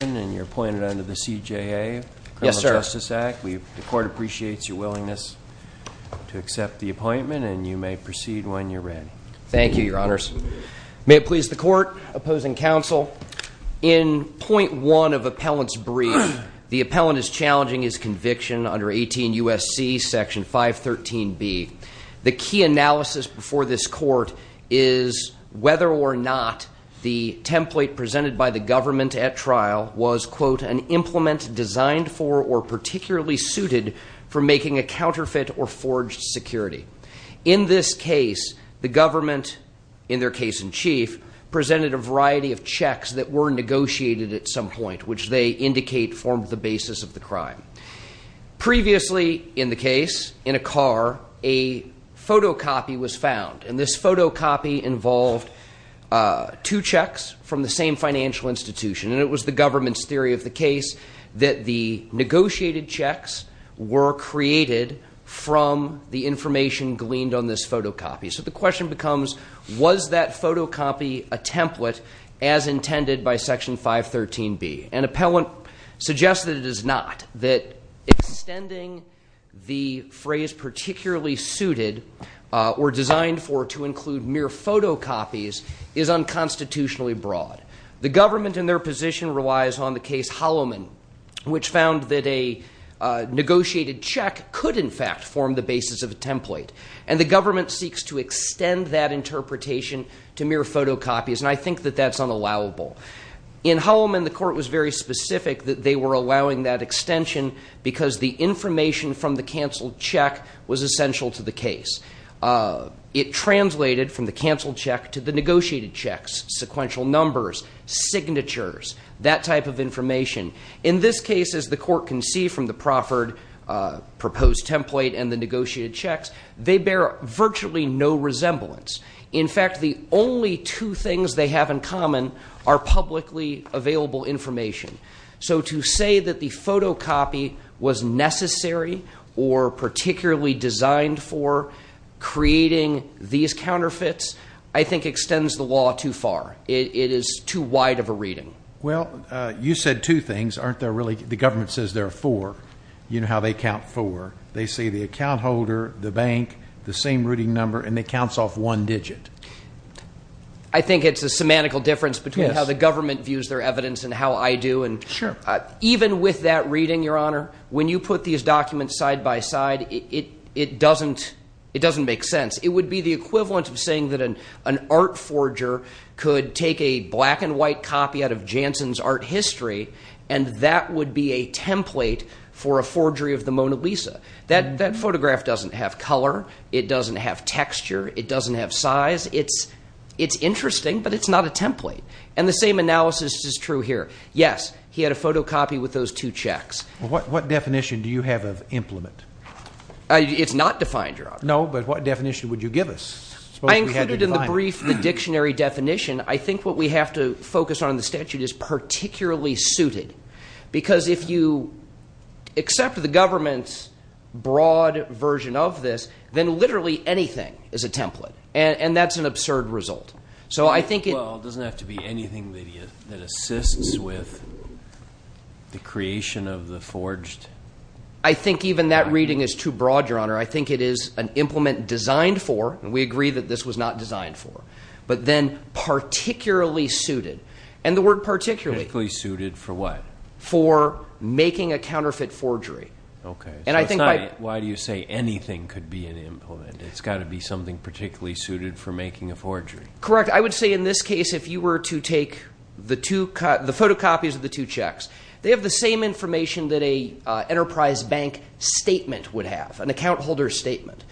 and you're appointed under the CJA. Yes, sir. The Court appreciates your willingness to accept the appointment and you may proceed when you're ready. Thank you, Your Honors. May it please the Court, opposing counsel, in point one of appellant's brief, the appellant is challenging his conviction under 18 U.S.C. section 513 B. The key analysis before this court is whether or not the template presented by the government at trial was, quote, an implement designed for or particularly suited for making a counterfeit or forged security. In this case, the government, in their case-in-chief, presented a variety of checks that were negotiated at some point, which they indicate formed the basis of the crime. Previously in the case, in a car, a photocopy was found and this photocopy involved two checks from the same financial institution and it was the government's theory of the case that the negotiated checks were created from the information gleaned on this photocopy. So the question becomes, was that photocopy a template as intended by section 513 B? An appellant suggests that it is not. That extending the phrase particularly suited or designed for to include mere photocopies is unconstitutionally broad. The government in their position relies on the case Holloman, which found that a negotiated check could, in fact, form the basis of a template. And the government seeks to extend that interpretation to mere photocopies and I think that that's unallowable. In Holloman, the court was very specific that they were allowing that extension because the information from the canceled check was essential to the case. It translated from the canceled check to the negotiated checks, sequential numbers, signatures, that type of information. In this case, as the court can see from the proffered proposed template and the negotiated checks, they bear virtually no resemblance. In fact, the only two things they have in common are publicly available information. So to say that the photocopy was necessary or particularly designed for creating these counterfeits, I think, extends the law too far. It is too wide of a reading. Well, you said two things, aren't there really? The government says there are four. You know how they count four. They say the account holder, the bank, the same routing number, and it counts off one digit. I think it's a semantical difference between how the government views their evidence and how I do. Sure. Even with that reading, Your Honor, when you put these documents side by side, it doesn't make sense. It would be the equivalent of saying that an art forger could take a black and white copy out of Janssen's art history and that would be a template for a forgery of the Mona Lisa. That photograph doesn't have color. It doesn't have texture. It doesn't have size. It's interesting, but it's not a template. And the same analysis is true here. Yes, he had a photocopy with those two checks. What definition do you have of implement? It's not defined, Your Honor. No, but what definition would you give us? I included in the brief the dictionary definition. I think what we have to focus on in the statute is particularly suited because if you accept the government's broad version of this, then literally anything is a template, and that's an absurd result. So I think it doesn't have to be anything that assists with the creation of the forged. I think even that reading is too broad, Your Honor. I think it is an implement designed for, and we agree that this was not designed for, but then particularly suited. And the word particularly suited for what? For making a counterfeit forgery. Okay. And I think... Why do you say anything could be an implement? It's got to be something particularly suited for making a forgery. Correct. I would say in this case, if you were to take the photocopies of the two checks, they have the same information that a enterprise bank statement would have, an account holder statement.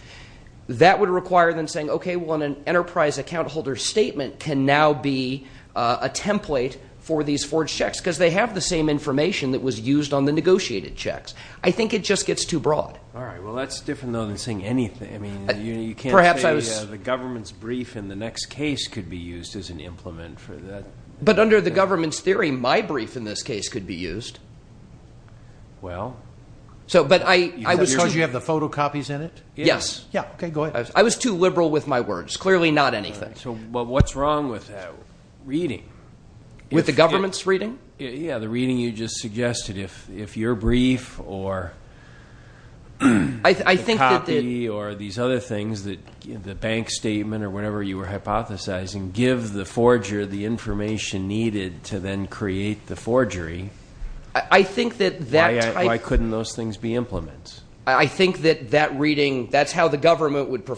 That would require them saying, okay, well, an enterprise account holder statement can now be a template for these forged checks because they have the same information that was used on the negotiated checks. I think it just gets too broad. All right. Well, that's different, though, than saying anything. I mean, you can't say the government's brief in the next case could be used as an implement for that. But under the government's theory, my brief in this case could be used. Well... So, but I was too... Because you have the photocopies in it? Yes. Yeah. Okay. Go ahead. I was too wrong with that reading. With the government's reading? Yeah, the reading you just suggested. If your brief or the copy or these other things, the bank statement or whatever you were hypothesizing, give the forger the information needed to then create the forgery, why couldn't those things be implements? I think that that reading, that's how the government would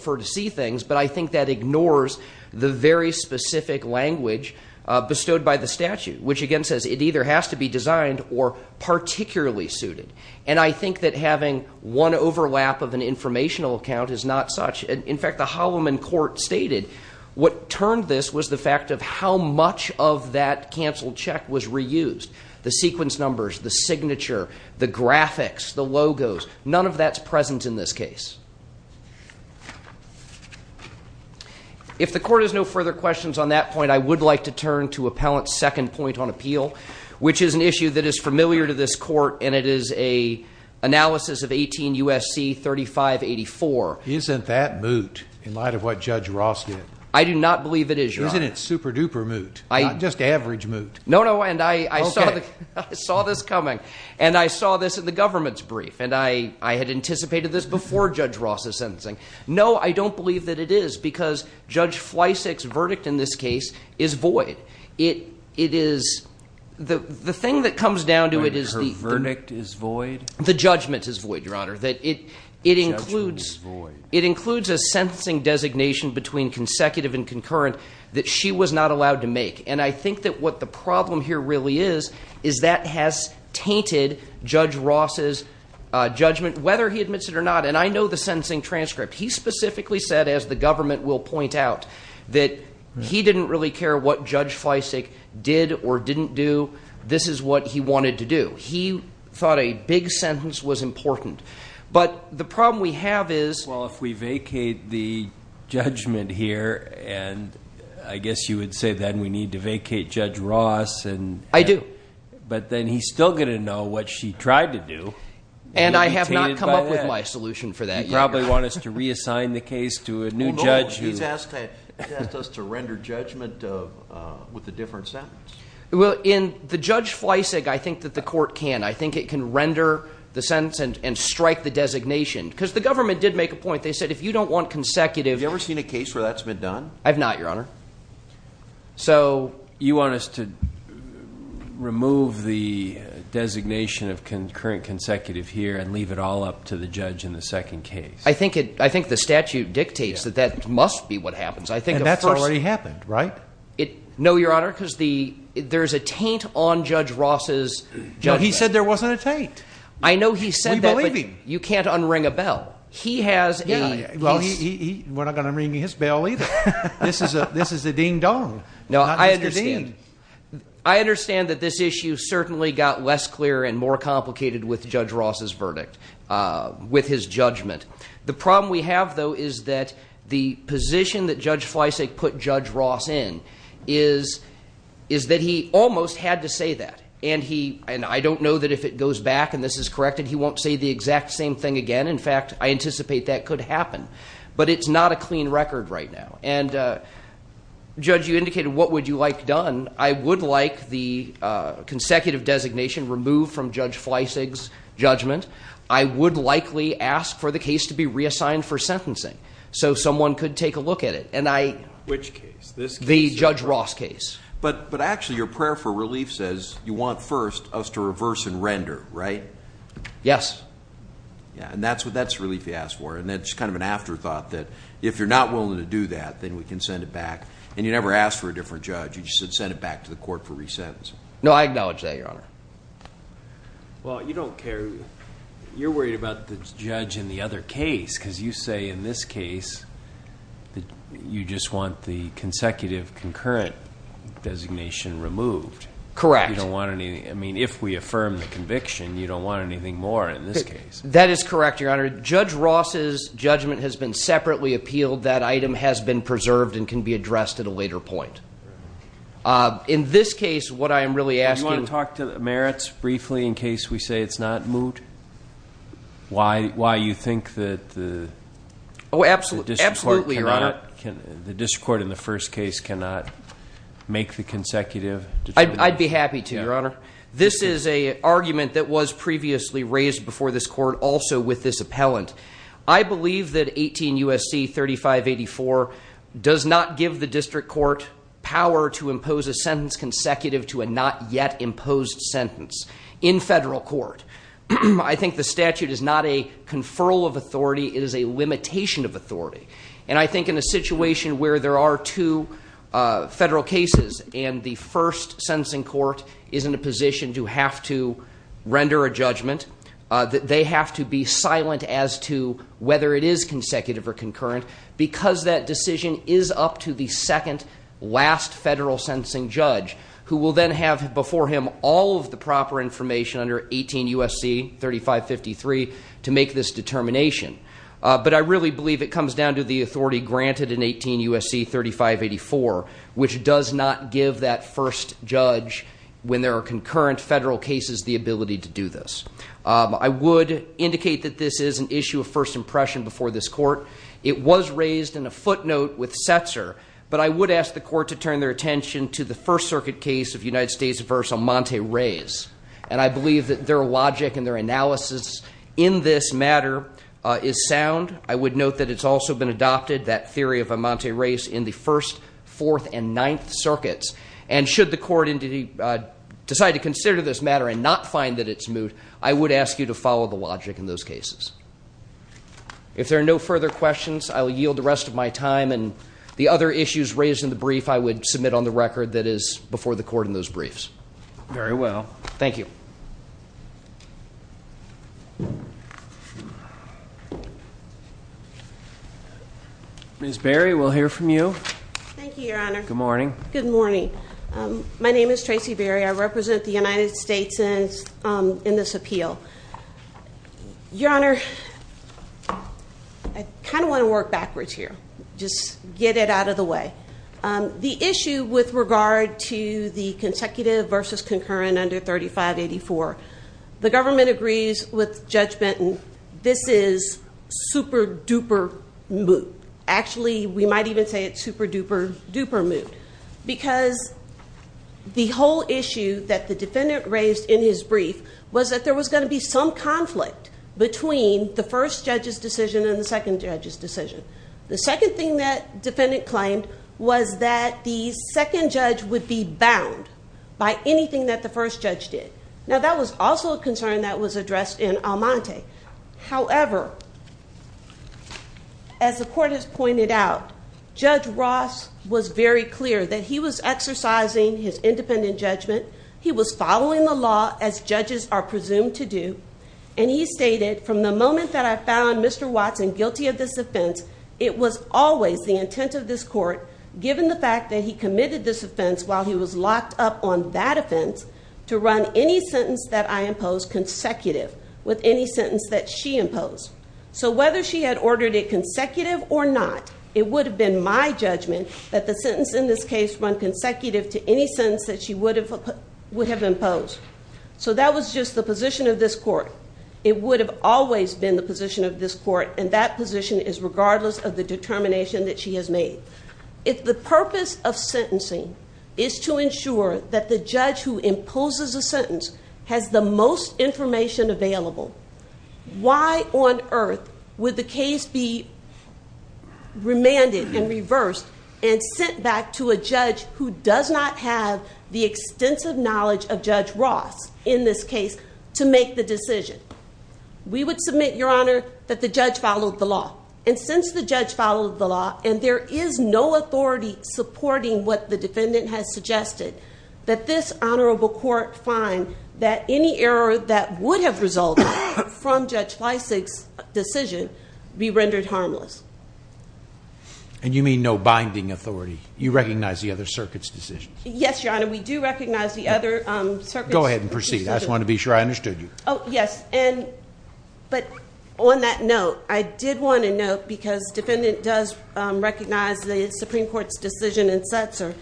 language bestowed by the statute, which, again, says it either has to be designed or particularly suited. And I think that having one overlap of an informational account is not such... In fact, the Holloman court stated what turned this was the fact of how much of that canceled check was reused. The sequence numbers, the signature, the graphics, the logos, none of that's present in this I would like to turn to Appellant's second point on appeal, which is an issue that is familiar to this court and it is a analysis of 18 U.S.C. 3584. Isn't that moot in light of what Judge Ross did? I do not believe it is, Your Honor. Isn't it super duper moot? Not just average moot. No, no, and I saw this coming and I saw this in the government's brief and I had anticipated this before Judge Ross's case is void. It is... The thing that comes down to it is... Her verdict is void? The judgment is void, Your Honor. It includes a sentencing designation between consecutive and concurrent that she was not allowed to make. And I think that what the problem here really is, is that has tainted Judge Ross's judgment, whether he admits it or not. And I know the sentencing transcript. He specifically said, as the government will point out, that he didn't really care what Judge Fleisig did or didn't do. This is what he wanted to do. He thought a big sentence was important. But the problem we have is... Well, if we vacate the judgment here and I guess you would say then we need to vacate Judge Ross and... I do. But then he's still gonna know what she tried to do. And I have not come up with my solution for that. You probably want us to reassign the case to a new judge who... No, he's asked us to render judgment with a different sentence. Well, in the Judge Fleisig, I think that the court can. I think it can render the sentence and strike the designation. Because the government did make a point. They said if you don't want consecutive... Have you ever seen a case where that's been done? I've not, Your Honor. So... You want us to remove the designation of concurrent consecutive here and leave it all up to the judge in the second case? I think it... I think the statute dictates that that must be what happens. I think... And that's already happened, right? No, Your Honor. Because the... There's a taint on Judge Ross's... He said there wasn't a taint. I know he said that. You can't unring a bell. He has a... Well, we're not gonna ring his bell either. This is a ding-dong. No, I understand. I understand that this issue certainly got less clear and more complicated with Judge Ross's with his judgment. The problem we have, though, is that the position that Judge Fleisig put Judge Ross in is... Is that he almost had to say that. And he... And I don't know that if it goes back and this is corrected, he won't say the exact same thing again. In fact, I anticipate that could happen. But it's not a clean record right now. And, Judge, you indicated what would you like done. I would like the would likely ask for the case to be reassigned for sentencing so someone could take a look at it. And I... Which case? This case? The Judge Ross case. But... But actually, your prayer for relief says you want first us to reverse and render, right? Yes. Yeah. And that's what... That's relief you asked for. And that's kind of an afterthought that if you're not willing to do that, then we can send it back. And you never asked for a different judge. You just said send it back to the court for resentencing. No, I acknowledge that, Your Honor. Well, you don't care. You're worried about the judge in the other case because you say, in this case, that you just want the consecutive concurrent designation removed. Correct. You don't want any... I mean, if we affirm the conviction, you don't want anything more in this case. That is correct, Your Honor. Judge Ross's judgment has been separately appealed. That item has been preserved and can be addressed at a later point. In this case, what I am really asking... Do you want to talk to merits briefly in terms of why it was not moved? Why you think that the... Oh, absolutely. Absolutely, Your Honor. The district court in the first case cannot make the consecutive... I'd be happy to, Your Honor. This is an argument that was previously raised before this court also with this appellant. I believe that 18 U.S.C. 3584 does not give the district court power to impose a sentence consecutive to a not yet imposed sentence in federal court. I think the statute is not a conferral of authority. It is a limitation of authority. And I think in a situation where there are two federal cases and the first sentencing court is in a position to have to render a judgment, that they have to be silent as to whether it is consecutive or concurrent because that decision is up to the second last federal sentencing judge who will then have before him all of the proper information under 18 U.S.C. 3553 to make this determination. But I really believe it comes down to the authority granted in 18 U.S.C. 3584, which does not give that first judge, when there are concurrent federal cases, the ability to do this. I would indicate that this is an issue of first impression before this court. It was raised in a footnote with Setzer, but I would ask the court to turn their attention to the First Circuit case of United States v. Amante Reyes. And I believe that their logic and their analysis in this matter is sound. I would note that it's also been adopted, that theory of Amante Reyes, in the First, Fourth, and Ninth Circuits. And should the court decide to consider this matter and not find that it's moot, I would ask you to follow the logic in those cases. If there are no further questions, I will yield the rest of my time. And the other issues raised in the brief, I would submit on the record that is before the court in those briefs. Very well. Thank you. Ms. Berry, we'll hear from you. Thank you, Your Honor. Good morning. Good morning. My name is Ms. Berry. I represent the United States in this appeal. Your Honor, I kind of want to work backwards here. Just get it out of the way. The issue with regard to the consecutive versus concurrent under 3584, the government agrees with Judge Benton, this is super duper moot. Actually, we might even say it's super duper moot. Because the whole issue that the defendant raised in his brief was that there was going to be some conflict between the first judge's decision and the second judge's decision. The second thing that defendant claimed was that the second judge would be bound by anything that the first judge did. Now that was also a concern that was addressed in Amante. However, as the was very clear that he was exercising his independent judgment. He was following the law as judges are presumed to do. And he stated from the moment that I found Mr Watson guilty of this offense, it was always the intent of this court, given the fact that he committed this offense while he was locked up on that offense to run any sentence that I impose consecutive with any sentence that she imposed. So whether she had ordered a consecutive or not, it would have been my judgment that the sentence in this case run consecutive to any sense that she would have would have imposed. So that was just the position of this court. It would have always been the position of this court. And that position is regardless of the determination that she has made. If the purpose of sentencing is to ensure that the judge who imposes a sentence has the most information available, why on earth would the case be remanded and reversed and sent back to a judge who does not have the extensive knowledge of Judge Ross in this case to make the decision? We would submit, Your Honor, that the judge followed the law. And since the judge followed the law, and there is no authority supporting what the defendant has suggested that this honorable court find that any error that would have resulted from Judge Fleissig's decision be rendered harmless. And you mean no binding authority? You recognize the other circuit's decisions? Yes, Your Honor. We do recognize the other circuits. Go ahead and proceed. I just want to be sure I understood you. Oh, yes. And but on that note, I did want to note because defendant does recognize the Supreme Court's decision in Setzer.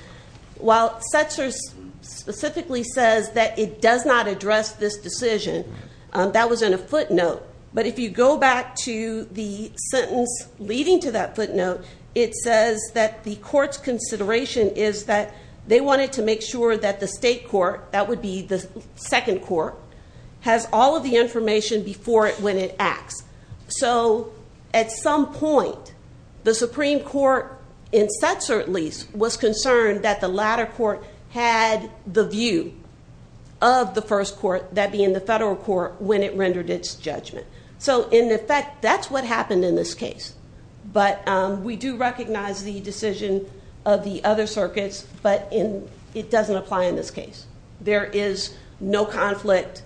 While Setzer specifically says that it does not address this decision, that was in a footnote. But if you go back to the sentence leading to that footnote, it says that the court's consideration is that they wanted to make sure that the state court, that would be the second court, has all of the information before it when it acts. So at some point, the Supreme Court, in Setzer at least, was concerned that the latter court had the view of the first court, that being the federal court, when it rendered its judgment. So in effect, that's what happened in this case. But we do recognize the decision of the other circuits, but it doesn't apply in this case. There is no conflict.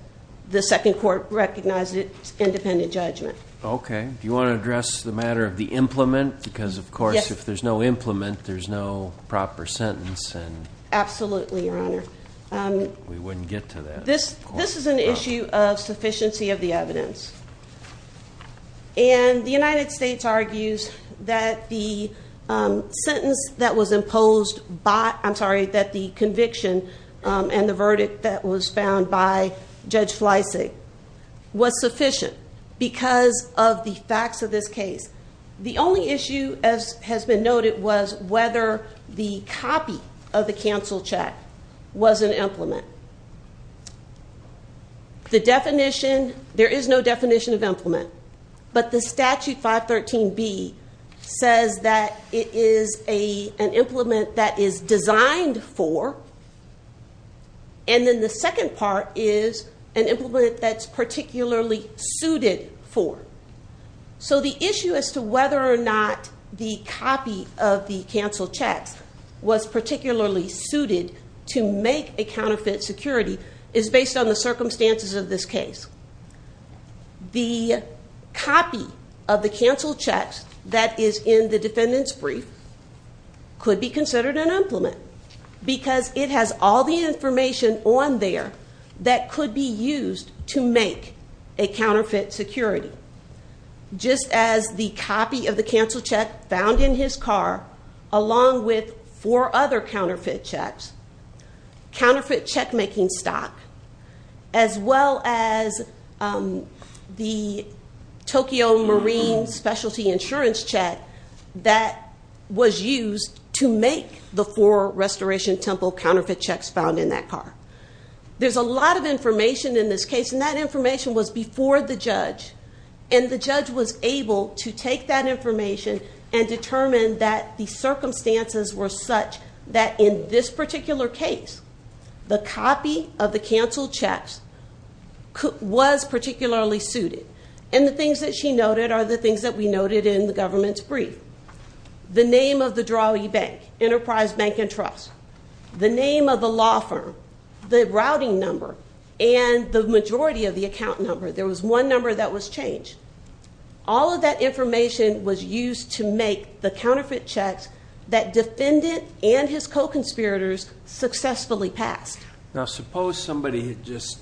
The second court recognized its independent judgment. Okay. Do you want to address the matter of the implement? Because, of course, if there's no implement, there's no proper sentence. Absolutely, Your Honor. We wouldn't get to that. This is an issue of sufficiency of the evidence. And the United States argues that the sentence that was imposed by, I'm sorry, that the conviction and the verdict that was found by Judge Fleissig was sufficient because of the facts of this case. The only issue, as has been noted, was whether the copy of the cancel check was an implement. The definition, there is no definition of implement, but the statute 513B says that it is an implement that is designed for, and then the second part is an implement that's particularly suited for. So the issue as to whether or not the copy of the cancel checks was particularly suited to make a counterfeit security is based on the circumstances of this case. The copy of the cancel checks that is in the defendant's brief could be used because it has all the information on there that could be used to make a counterfeit security. Just as the copy of the cancel check found in his car, along with four other counterfeit checks, counterfeit check making stock, as well as the Tokyo Marine Specialty Insurance check that was used to make the four Restoration Temple counterfeit checks found in that car. There's a lot of information in this case, and that information was before the judge, and the judge was able to take that information and determine that the circumstances were such that in this particular case, the copy of the cancel checks was particularly suited. And the things that she noted are the things that we noted in the government's brief, the name of the Drawee Bank, Enterprise Bank and Trust, the name of the law firm, the routing number and the majority of the account number. There was one number that was changed. All of that information was used to make the counterfeit checks that defendant and his co conspirators successfully passed. Now, suppose somebody had just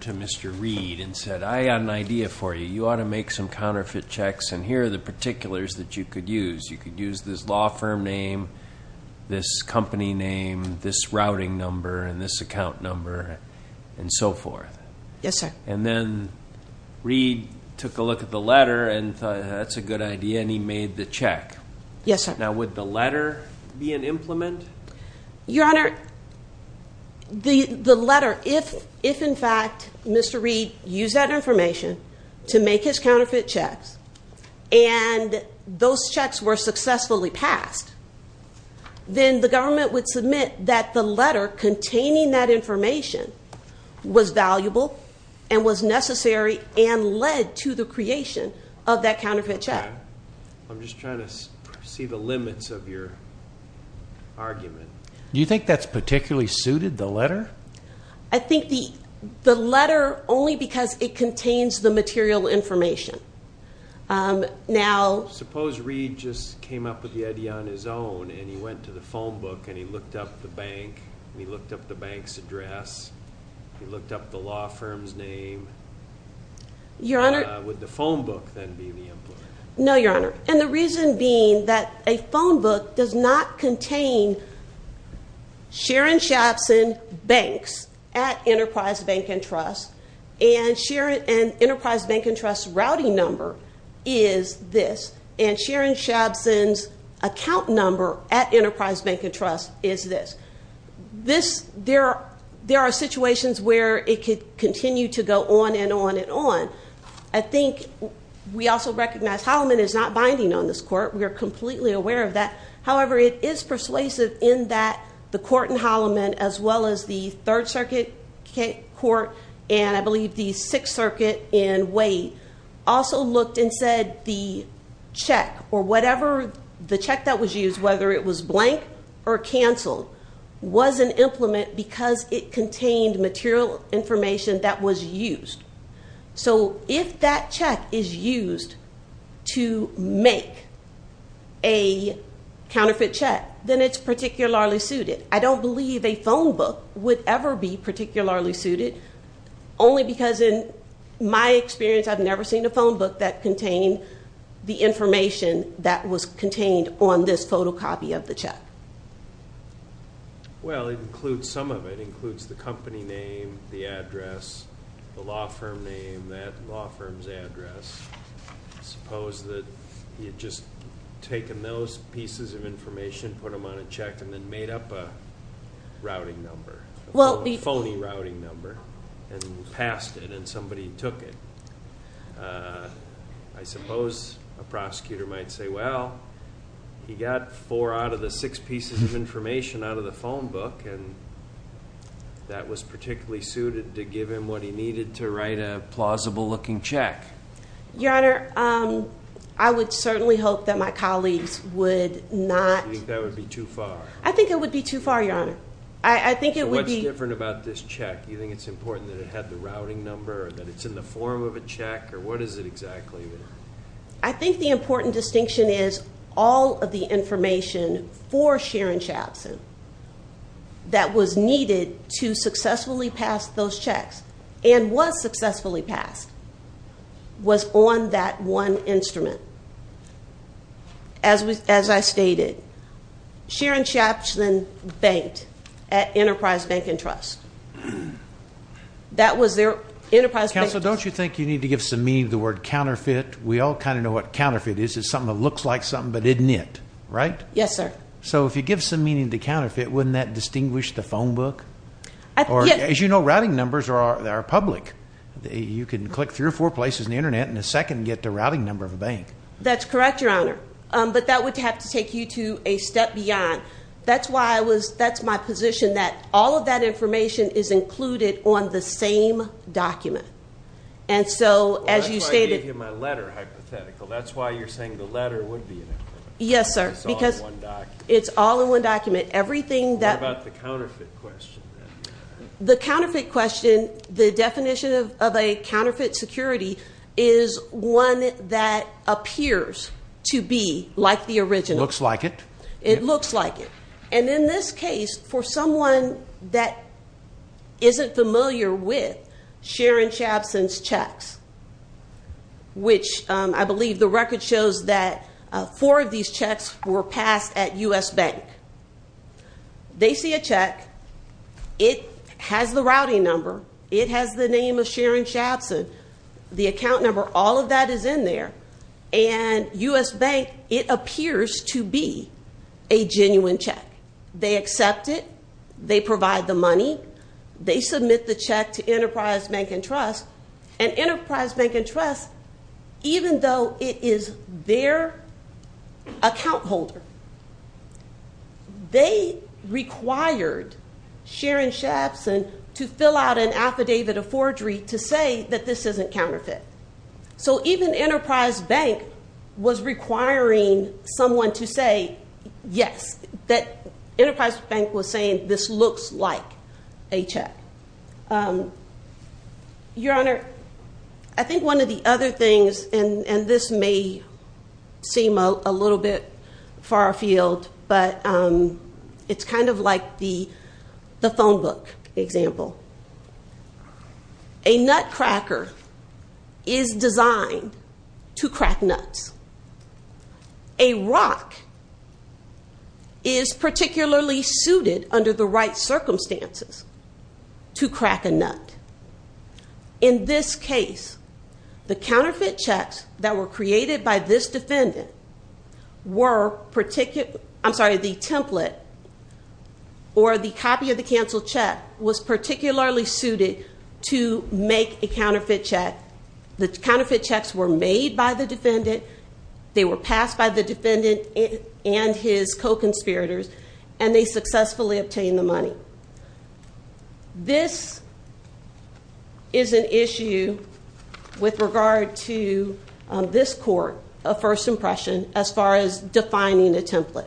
to Mr. Reid and said, I got an idea for you. You ought to make some counterfeit checks, and here are the particulars that you could use. You could use this law firm name, this company name, this routing number and this account number and so forth. Yes, sir. And then Reid took a look at the letter and thought, that's a good idea, and he made the check. Yes, sir. Now, would the letter be an implement? Your Honor, the letter, if in fact, Mr. Reid used that information to make his counterfeit checks and those checks were successfully passed, then the government would submit that the letter containing that information was valuable and was necessary and led to the creation of that counterfeit check. I'm just trying to see the limits of your argument. Do you think that's particularly suited the letter? I think the letter only because it contains the material information. Now, suppose Reid just came up with the idea on his own and he went to the phone book and he looked up the bank and he looked up the bank's address, he looked up the law firm's name. Would the phone book then be the implement? No, Your Honor. And the reason being that a phone book does not contain Sharon Shapson Banks at Enterprise Bank and Trust, and Enterprise Bank and Trust's routing number is this, and Sharon Shapson's account number at Enterprise Bank and Trust is this. There are situations where it could continue to go on and on and on. I think we also recognize Holloman is not binding on this court, we are completely aware of that. However, it is persuasive in that the court in Holloman as well as the Third Circuit Court and I believe the Sixth Circuit in Wade also looked and said the check or the phone book was an implement because it contained material information that was used. So if that check is used to make a counterfeit check, then it's particularly suited. I don't believe a phone book would ever be particularly suited, only because in my experience, I've never seen a phone book that contained the information that was contained on this photocopy of the check. Well, it includes... Some of it includes the company name, the address, the law firm name, that law firm's address. Suppose that you'd just taken those pieces of information, put them on a check and then made up a routing number, a phony routing number and passed it and somebody took it out. He got four out of the six pieces of information out of the phone book and that was particularly suited to give him what he needed to write a plausible looking check. Your Honor, I would certainly hope that my colleagues would not... You think that would be too far? I think it would be too far, Your Honor. I think it would be... So what's different about this check? Do you think it's important that it had the routing number or that it's in the form of a check or what is it exactly? I think the important distinction is all of the information for Sharon Shapson that was needed to successfully pass those checks and was successfully passed was on that one instrument. As I stated, Sharon Shapson banked at Enterprise Bank and Trust. That was their... Enterprise Bank... Counsel, don't you think you need to give some meaning to the word counterfeit? We all kind of know what counterfeit is. It's something that looks like something but isn't it, right? Yes, sir. So if you give some meaning to counterfeit, wouldn't that distinguish the phone book? Or as you know, routing numbers are public. You can click three or four places on the internet in a second and get the routing number of a bank. That's correct, Your Honor. But that would have to take you to a step beyond. That's why I was... That's my position that all of that information is included on the same document. And so, as you stated... That's why I gave you my letter, hypothetical. That's why you're saying the letter would be... Yes, sir. Because... It's all in one document. It's all in one document. Everything that... What about the counterfeit question? The counterfeit question, the definition of a counterfeit security is one that appears to be like the original. Looks like it. It looks like it. And in this case, for someone that isn't familiar with Sharon Chapson's checks, which I believe the record shows that four of these checks were passed at US Bank. They see a check. It has the routing number. It has the name of Sharon Chapson, the account number. All of that is in there. And US Bank, it appears to be a genuine check. They accept it. They provide the money. They submit the check to Enterprise Bank and Trust. And Enterprise Bank and Trust, even though it is their account holder, they required Sharon Chapson to fill out an affidavit of forgery to say that this isn't counterfeit. So even Enterprise Bank was requiring someone to say, yes, that Enterprise Bank was saying this looks like a check. Your Honor, I think one of the other things, and this may seem a little bit far afield, but it's kind of like the phone book example. A nutcracker is designed to crack nuts. A rock is particularly suited under the right circumstances to crack a nut. In this case, the counterfeit checks that were created by this defendant were particular... I'm sorry, the template or the copy of the canceled check was particularly suited to make a counterfeit check. The counterfeit checks were made by the defendant. They were passed by the defendant and his co-conspirators, and they successfully obtained the money. This is an issue with regard to this court of first impression as far as defining a template.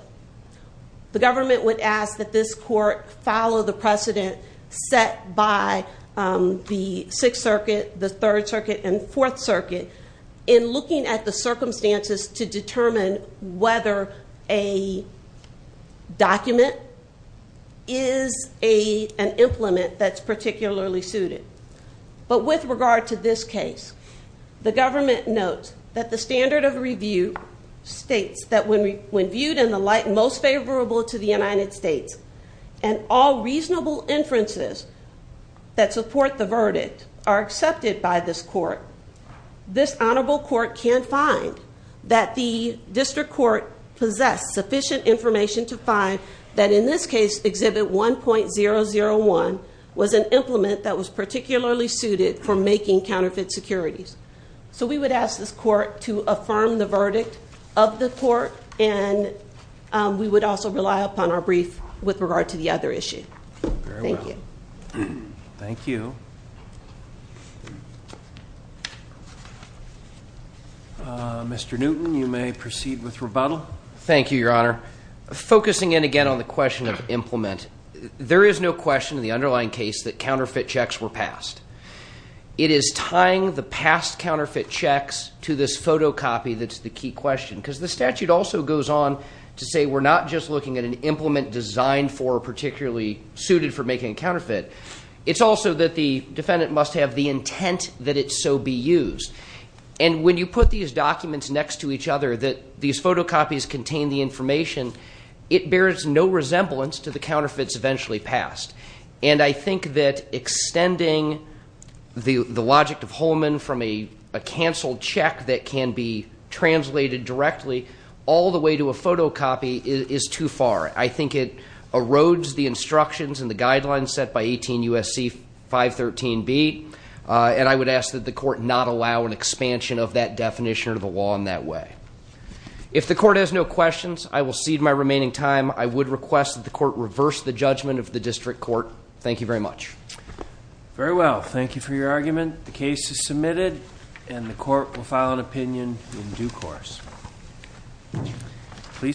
The government would ask that this court follow the precedent set by the Sixth Circuit, the Third Circuit, and Fourth Circuit in looking at the circumstances to determine whether a document is an implement that's particularly suited. But with regard to this case, the government notes that the standard of review states that when viewed in the light most favorable to the United States, and all reasonable inferences that support the verdict are accepted by this court, this honorable court can find that the district court possess sufficient information to find that in this case, Exhibit 1.001 was an implement that was particularly suited for making counterfeit securities. So we would ask this court to affirm the verdict of the court, and we would also rely upon our brief with regard to the other issue. Thank you. Very well. Thank you. Mr. Newton, you may proceed with rebuttal. Thank you, Your Honor. Focusing in again on the question of implement, there is no question in the underlying case that counterfeit checks were passed. It is tying the past counterfeit checks to this photocopy that's the key question, because the statute also goes on to say we're not just looking at an implement designed for, particularly suited for making a counterfeit. It's also that the defendant must have the intent that it so be used. And when you put these documents next to each other that these photocopies contain the information, it bears no resemblance to the counterfeits eventually passed. And I think that extending the logic of Holman from a canceled check that can be translated directly all the way to a photocopy is too far. I think it erodes the instructions and the guidelines set by 18 U.S.C. 513B, and I would ask that the court not allow an expansion of that definition of the law in that way. If the court has no questions, I will cede my remaining time. I would request that the court reverse the judgment of the district court. Thank you very much. Very well. Thank you for your argument. The case is submitted, and the court will file an opinion in due course. Please.